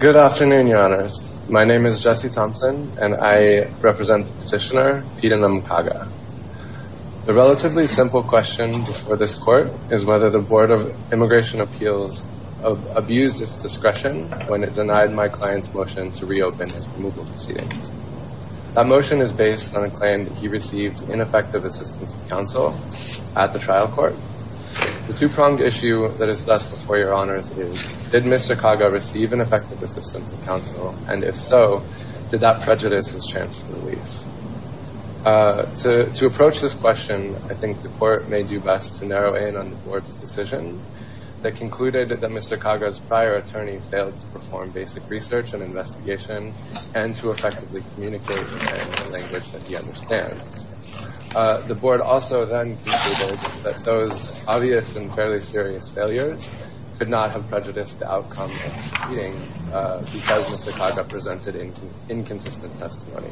Good afternoon, your honors. My name is Jesse Thompson, and I represent petitioner Peter Namkaga the relatively simple question for this court is whether the Board of Immigration Appeals abused its discretion when it denied my client's motion to reopen his removal proceedings. That motion is based on a claim that he received ineffective assistance of counsel at the trial court. The two-pronged issue that is thus before your honors is, did Mr. Kaga receive an effective assistance of counsel, and if so, did that prejudice his chance of relief? To approach this question, I think the court may do best to narrow in on the board's decision that concluded that Mr. Kaga's prior attorney failed to perform basic research and investigation and to effectively communicate in the language that he understands. The board also then concluded that those obvious and fairly serious failures could not have prejudiced the outcome of the proceedings because Mr. Kaga presented inconsistent testimony.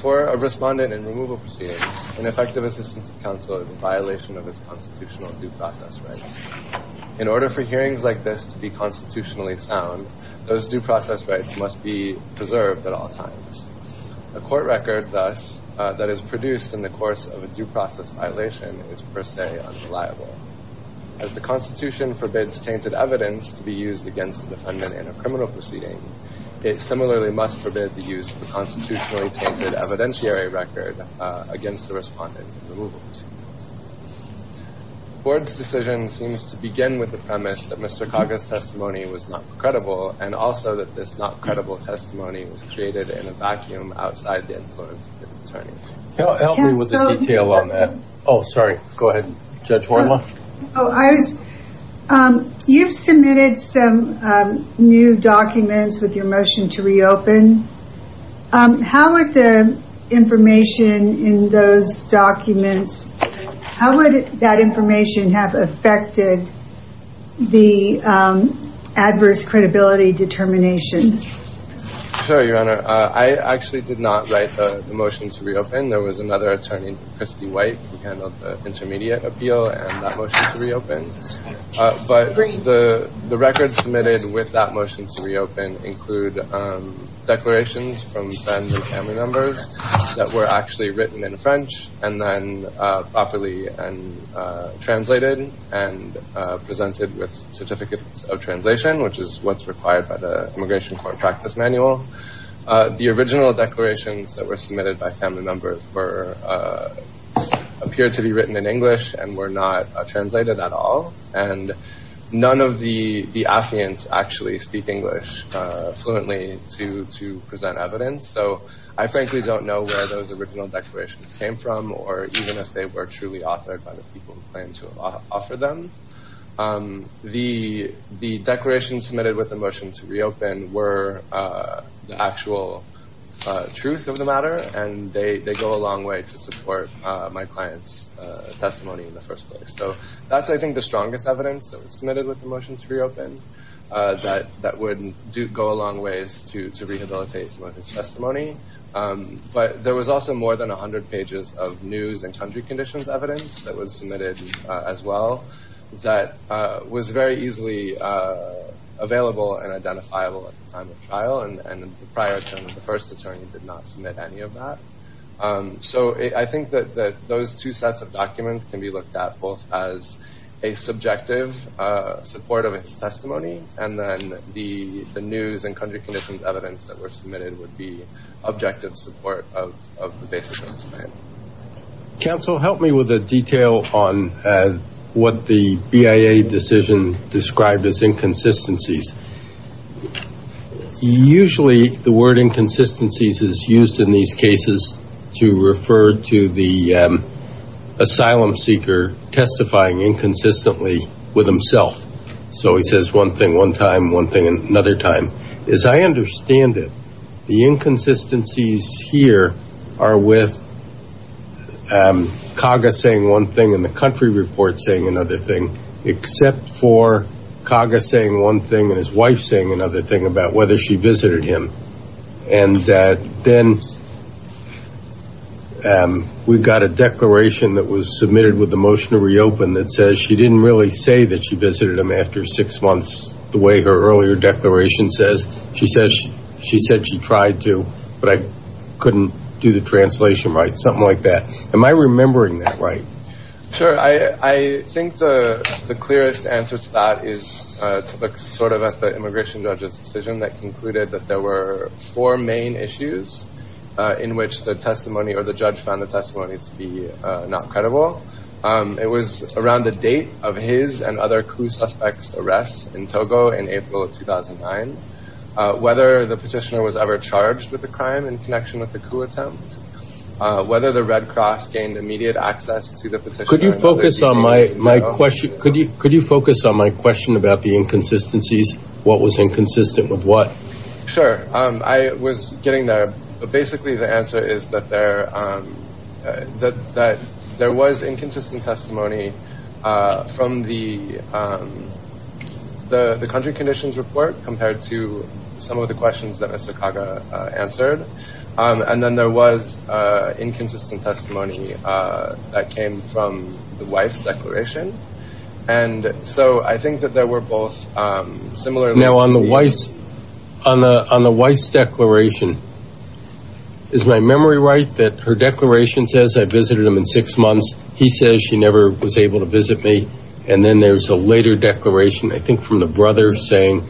For a respondent in removal proceedings, an effective assistance of counsel is a violation of its constitutional due process rights. In order for hearings like this to be constitutionally sound, those due process rights must be preserved at all times. A court record, thus, that is produced in the course of a due process violation is per se unreliable. As the Constitution forbids tainted evidence to be used against the defendant in a criminal proceeding, it similarly must forbid the use of a constitutionally tainted evidentiary record against the respondent in removal proceedings. The board's decision seems to begin with the premise that Mr. Kaga's testimony was not credible, and also that this not-credible testimony was created in a vacuum outside the influence of the attorneys. You've submitted some new documents with your motion to reopen. How would the information in those documents, how would that information have affected the adverse credibility determination? Sure, Your Honor. I actually did not write the motion to reopen. There was another attorney, Christy White, who handled the intermediate appeal and that motion to reopen. But the records submitted with that motion to reopen include declarations from friends and family members that were actually written in French and then properly translated and presented with certificates of translation, which is what's required by the Immigration Court Practice Manual. The original declarations that were submitted by family members appeared to be written in English and were not translated at all. And none of the affiants actually speak English fluently to present evidence. So I frankly don't know where those original declarations came from or even if they were truly authored by the people who claimed to have offered them. The declarations submitted with the motion to reopen were the actual truth of the matter and they go a long way to support my client's testimony in the first place. So that's, I think, the strongest evidence that was submitted with the motion to reopen that would go a long ways to rehabilitate his testimony. But there was also more than 100 pages of news and country conditions evidence that was submitted as well that was very easily available and identifiable at the time of trial and prior to the first attorney did not submit any of that. So I think that those two sets of documents can be looked at as a subjective support of his testimony and then the news and country conditions evidence that were submitted would be objective support of the basis of his claim. Counsel, help me with a detail on what the BIA decision described as inconsistencies. Usually the word inconsistencies is used in these cases to refer to the asylum seeker testifying inconsistently with himself. So he says one thing one time, one thing another time. As I understand it, the inconsistencies here are with Kaga saying one thing and the country report saying another thing except for Kaga saying one thing and his wife saying another thing about whether she visited him. And then we've got a declaration that was submitted with the motion to reopen that says she didn't really say that she visited him after six months the way her earlier declaration says. She said she tried to, but I couldn't do the translation right. Something like that. Am I remembering that right? Sure, I think the clearest answer to that is to look sort of at the immigration judge's decision that concluded that there were four main issues in which the testimony or the judge found the testimony to be not credible. It was around the date of his and other coup suspects' arrests in Togo in April of 2009. Whether the petitioner was ever charged with the crime in connection with the coup attempt. Whether the Red Cross gained immediate access to the petitioner. Could you focus on my question about the inconsistencies? What was inconsistent with what? Sure, I was getting there. But basically the answer is that there was inconsistent testimony from the country conditions report compared to some of the questions that Mr. Kaga answered. And then there was inconsistent testimony that came from the wife's declaration. And so I think that there were both similar... Now on the wife's declaration, is my memory right that her declaration says I visited him in six months. He says she never was able to visit me. And then there's a later declaration, I think from the brother, saying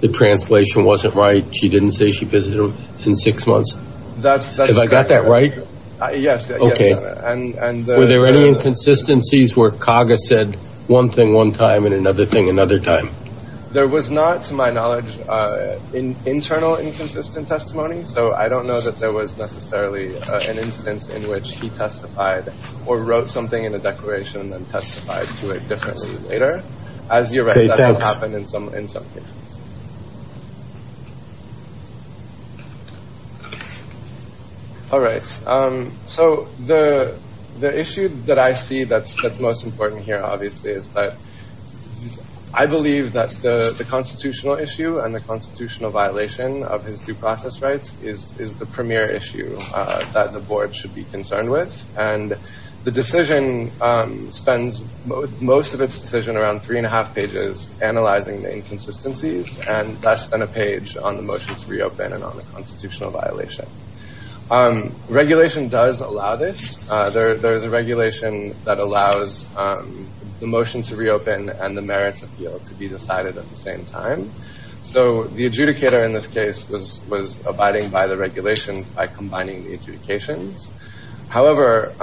the translation wasn't right. She didn't say she visited him in six months. That's correct. Have I got that right? Yes. Were there any inconsistencies where Kaga said one thing one time and another thing another time? There was not, to my knowledge, internal inconsistent testimony. So I don't know that there was necessarily an instance in which he testified or wrote something in a declaration and testified to it differently later. As you're right, that has happened in some cases. All right, so the issue that I see that's most important here, obviously, is that I believe that the constitutional issue and the constitutional violation of his due process rights is the premier issue that the board should be concerned with. And the decision spends most of its decision around three and a half pages analyzing the inconsistencies and less than a page on the motion to reopen and on the constitutional violation. Regulation does allow this. There is a regulation that allows the motion to reopen and the merits appeal to be decided at the same time. So the adjudicator in this case was abiding by the regulations by combining the adjudications. However,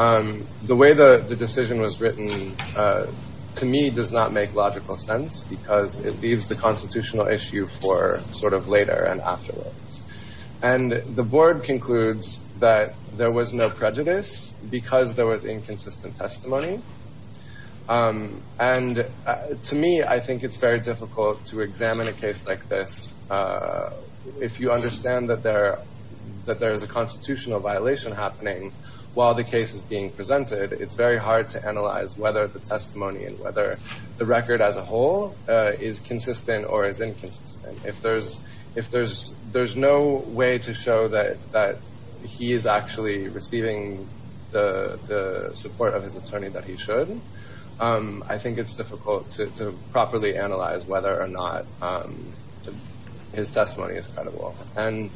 the way the decision was written, to me, does not make logical sense because it leaves the constitutional issue for sort of later and afterwards. And the board concludes that there was no prejudice because there was inconsistent testimony. And to me, I think it's very difficult to examine a case like this if you understand that there is a constitutional violation happening while the case is being presented. It's very hard to analyze whether the testimony and whether the record as a whole is consistent or is inconsistent. If there's no way to show that he is actually receiving the support of his attorney that he should, I think it's difficult to properly analyze whether or not his testimony is credible. And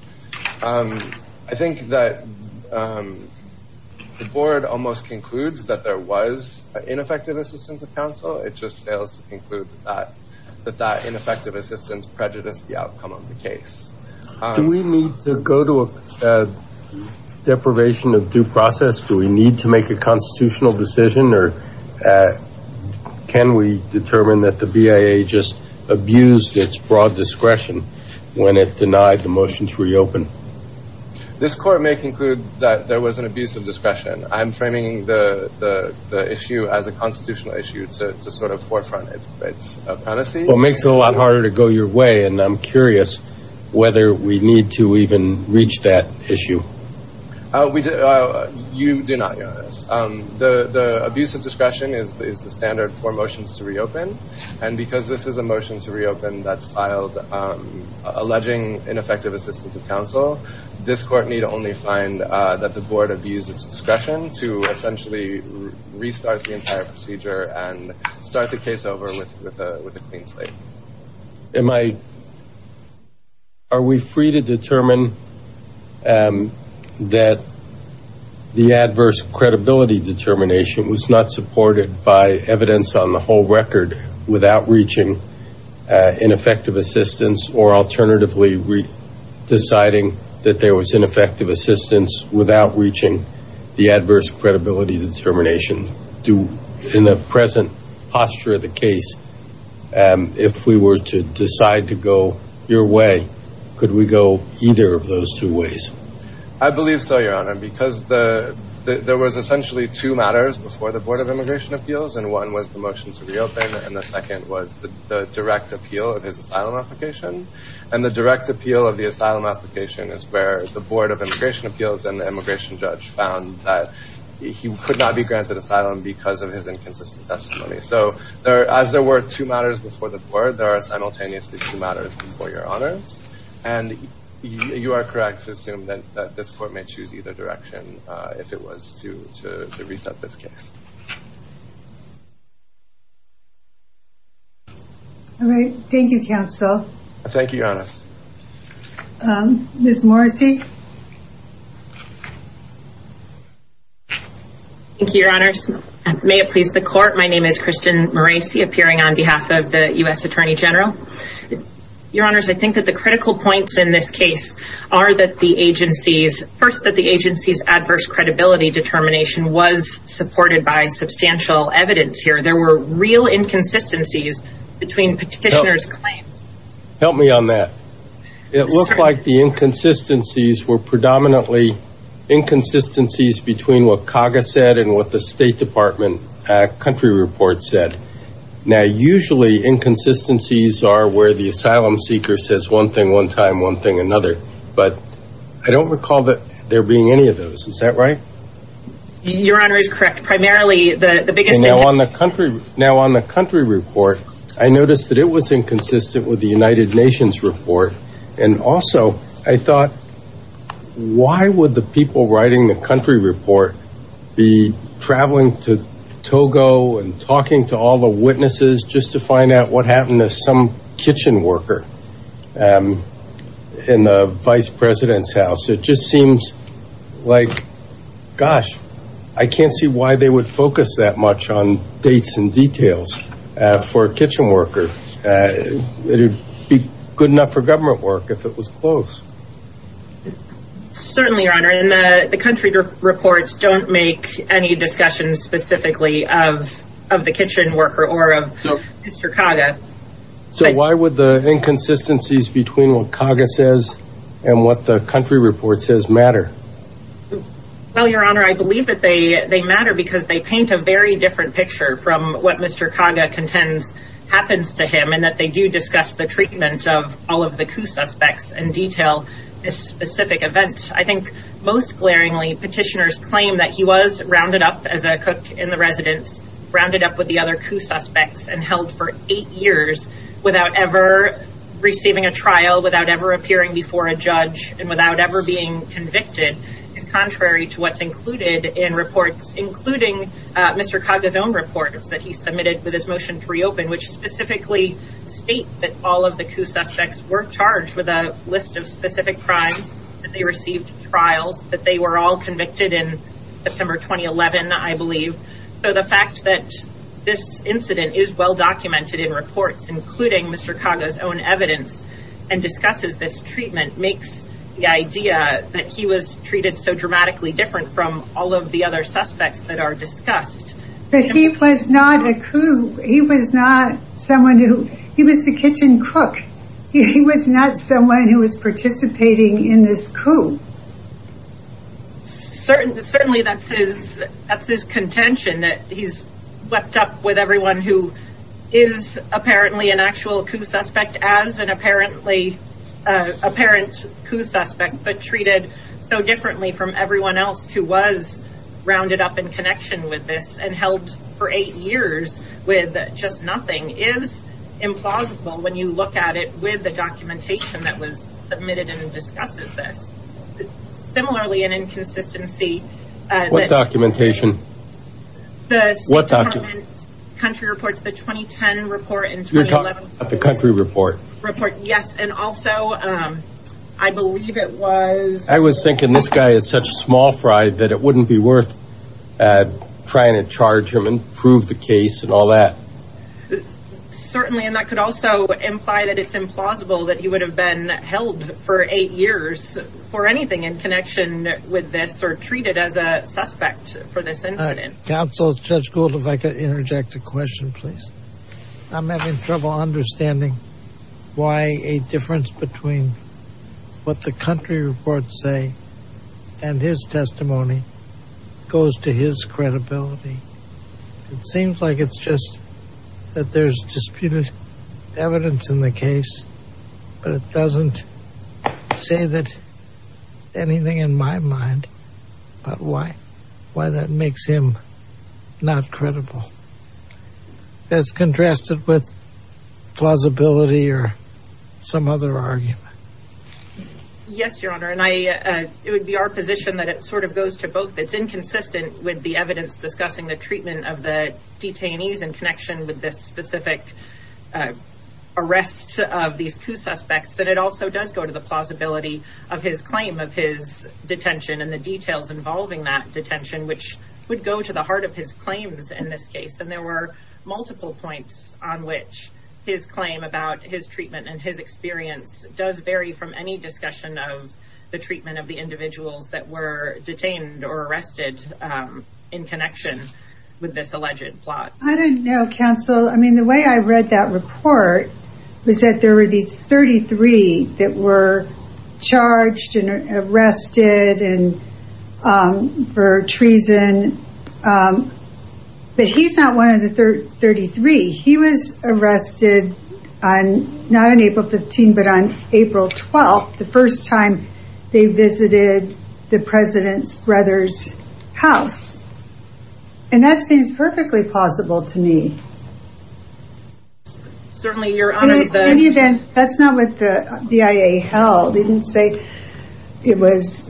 I think that the board almost concludes that there was ineffective assistance of counsel. It just fails to conclude that that ineffective assistance prejudiced the outcome of the case. Do we need to go to a deprivation of due process? Do we need to make a constitutional decision? Or can we determine that the BIA just abused its broad discretion when it denied the motion to reopen? This court may conclude that there was an abuse of discretion. I'm framing the issue as a constitutional issue to sort of forefront its amnesty. Well, it makes it a lot harder to go your way. And I'm curious whether we need to even reach that issue. You do not, Your Honor. The abuse of discretion is the standard for motions to reopen. And because this is a motion to reopen that's filed alleging ineffective assistance of counsel, this court need only find that the board abused its discretion to essentially restart the entire procedure and start the case over with a clean slate. Am I... Are we free to determine that the adverse credibility determination was not supported by evidence on the whole record without reaching ineffective assistance or alternatively deciding that there was ineffective assistance without reaching the adverse credibility determination? In the present posture of the case, if we were to decide to go your way, could we go either of those two ways? I believe so, Your Honor, because there was essentially two matters before the Board of Immigration Appeals, and one was the motion to reopen, and the second was the direct appeal of his asylum application. And the direct appeal of the asylum application is where the Board of Immigration Appeals and the immigration judge found that he could not be granted asylum because of his inconsistent testimony. So as there were two matters before the Board, there are simultaneously two matters before Your Honors, and you are correct to assume that this court may choose either direction if it was to reset this case. All right. Thank you, counsel. Thank you, Your Honors. Ms. Morrisey. Thank you, Your Honors. May it please the Court, my name is Kristen Morrisey appearing on behalf of the U.S. Attorney General. Your Honors, I think that the critical points in this case are that the agency's... first, that the agency's adverse credibility determination was supported by evidence. There were real inconsistencies between petitioners' claims. Help me on that. It looked like the inconsistencies were predominantly inconsistencies between what CAGA said and what the State Department country report said. Now, usually inconsistencies are where the asylum seeker says one thing one time, one thing another, but I don't recall there being any of those. Is that right? Your Honor is correct. Now, on the country report, I noticed that it was inconsistent with the United Nations report. And also, I thought, why would the people writing the country report be traveling to Togo and talking to all the witnesses just to find out what happened to some kitchen worker in the vice president's house? It just seems like, gosh, I can't see why they would focus that much on dates and details for a kitchen worker. It would be good enough for government work if it was close. Certainly, Your Honor. And the country reports don't make any discussions specifically of the kitchen worker or of Mr. CAGA. So why would the inconsistencies between what CAGA says and what the country report says matter? Well, Your Honor, I believe that they matter because they paint a very different picture from what Mr. CAGA contends happens to him and that they do discuss the treatment of all of the coup suspects and detail this specific event. I think most glaringly, petitioners claim that he was rounded up as a cook in the residence, rounded up with the other coup suspects and held for eight years without ever receiving a trial, without ever appearing before a judge and without ever being convicted is contrary to what's included in reports including Mr. CAGA's own reports that he submitted with his motion to reopen which specifically state that all of the coup suspects were charged with a list of specific crimes, that they received trials, that they were all convicted in September 2011, I believe. So the fact that this incident including Mr. CAGA's own evidence and discusses this treatment makes the idea that he was treated so dramatically different from all of the other suspects that are discussed. But he was not a coup. He was not someone who he was the kitchen cook. He was not someone who was participating in this coup. Certainly that's his contention that he's wept up with everyone who is apparently an actual coup suspect as an apparently apparent coup suspect but treated so differently from everyone else who was rounded up in connection with this and held for 8 years with just nothing is implausible when you look at it with the documentation that was submitted and discusses this. Similarly an inconsistency What documentation? The State Department country reports the 2010 report You're talking about the country report. Yes and also I believe it was I was thinking this guy is such a small fry that it wouldn't be worth trying to charge him and prove the case and all that. Certainly and that could also imply that it's implausible that he would have been held for 8 years for anything in connection with this or treated as a suspect for this incident. Counsel Judge Gould if I could interject a question please. I'm having trouble understanding why a difference between what the country reports say and his testimony goes to his credibility. It seems like it's just that there's disputed evidence in the case but it doesn't say that anything in my mind about why why that makes him not credible. That's contrasted with plausibility or some other argument. Yes your honor and I it would be our position that it sort of goes to both. It's inconsistent with the evidence discussing the treatment of the detainees in connection with this specific arrest of these two suspects that it also does go to the plausibility of his claim of his contention which would go to the heart of his claims in this case and there were multiple points on which his claim about his treatment and his experience does vary from any discussion of the treatment of the individuals that were detained or arrested in connection with this alleged plot. I don't know counsel the way I read that report was that there were these 33 that were charged and arrested and for treason but he's not one of the 33. He was arrested on not on April 15 but on April 12 the first time they visited the president's brother's house and that seems perfectly plausible to me. Certainly your honor In any event that's not what the BIA held. They didn't say it was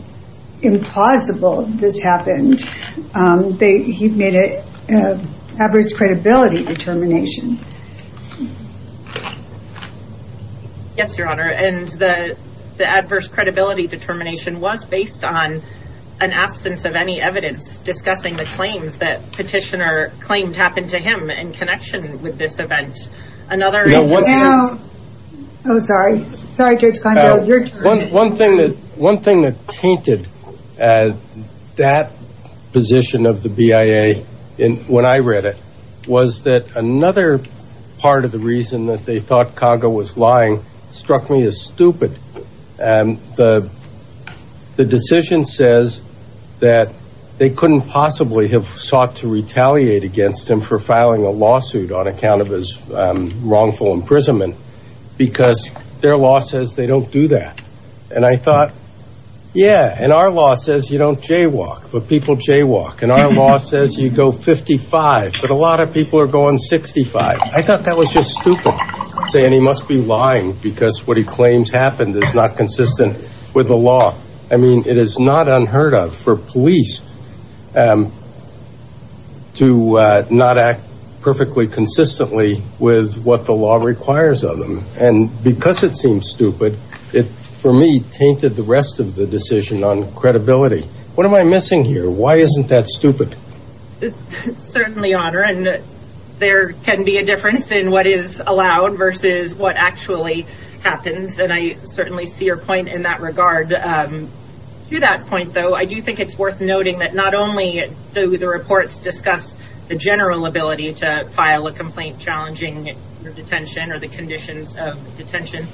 implausible this happened he made it adverse credibility determination. Yes your honor and the adverse credibility determination was based on an absence of any evidence discussing the claims that petitioner claimed happened to him in connection with this event. Another Oh sorry One thing that tainted that position of the BIA when I read it was that another part of the reason that they thought Kaga was lying struck me as stupid and the decision says that they couldn't possibly have sought to retaliate against him for filing a lawsuit on account of his wrongful imprisonment because their law says they don't do that and I thought yeah and our law says you don't jaywalk but people jaywalk and our law says you go 55 but a lot of people are going 65. I thought that was just stupid saying he must be lying because what he claims happened is not consistent with the law I mean it is not unheard of for police to not act perfectly consistently with what the law requires of them and because it seems stupid it for me tainted the rest of the decision on credibility. What am I missing here? Why isn't that stupid? Certainly Honor there can be a difference in what is allowed versus what actually happens and I certainly see your point in that regard to that point though I do think it's worth noting that not only do the reports discuss the general ability to file a complaint challenging detention or the conditions of detention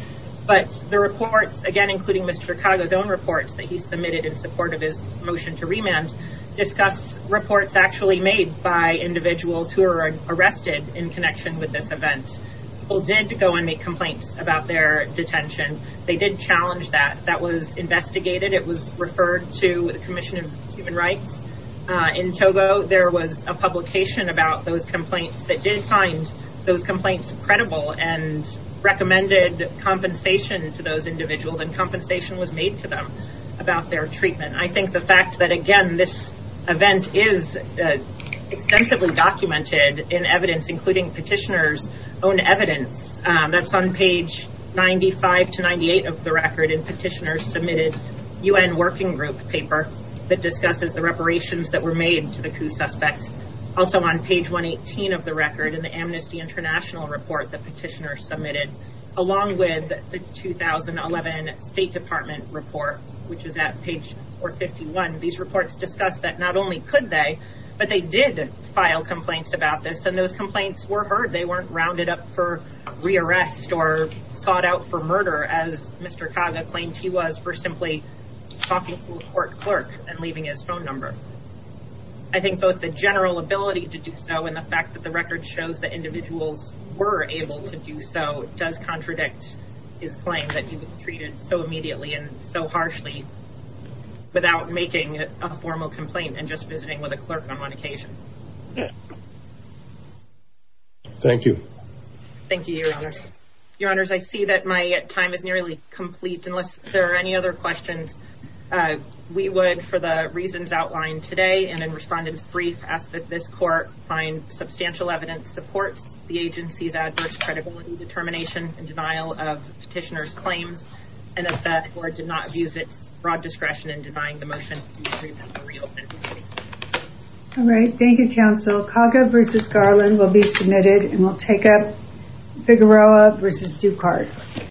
but the reports again including Mr. Cargo's own reports that he submitted in support of his motion to remand discuss reports actually made by individuals who are arrested in connection with this event people did go and make complaints about their detention. They did challenge that. That was investigated it was referred to the commission of human rights. In Togo there was a publication about those complaints that did find those complaints credible and recommended compensation to those individuals and compensation was made to them about their treatment. I think the fact that again this event is extensively documented in evidence including petitioners own evidence that's on page 95 to 98 of the record and petitioners submitted UN working group paper that also on page 118 of the record in the amnesty international report the petitioner submitted along with the 2011 state department report which is at page 451. These reports discuss that not only could they but they did file complaints about this and those complaints were heard. They weren't rounded up for rearrest or sought out for murder as Mr. Cargo claimed he was for simply talking to a court clerk and leaving his own number. I think both the general ability to do so and the fact that the record shows that individuals were able to do so does contradict his claim that he was treated so immediately and so harshly without making a formal complaint and just visiting with a clerk on occasion. Thank you. Thank you your honors. Your honors I see that my time is nearly complete unless there are any other questions we would for the reasons outlined today and in respondents brief ask that this court find substantial evidence supports the agency's adverse credibility determination and denial of petitioner's claims and that the court did not abuse its broad discretion in denying the motion. All right. Thank you counsel. Cargo v. Garland will be submitted and we'll take up Figueroa v. Ducard.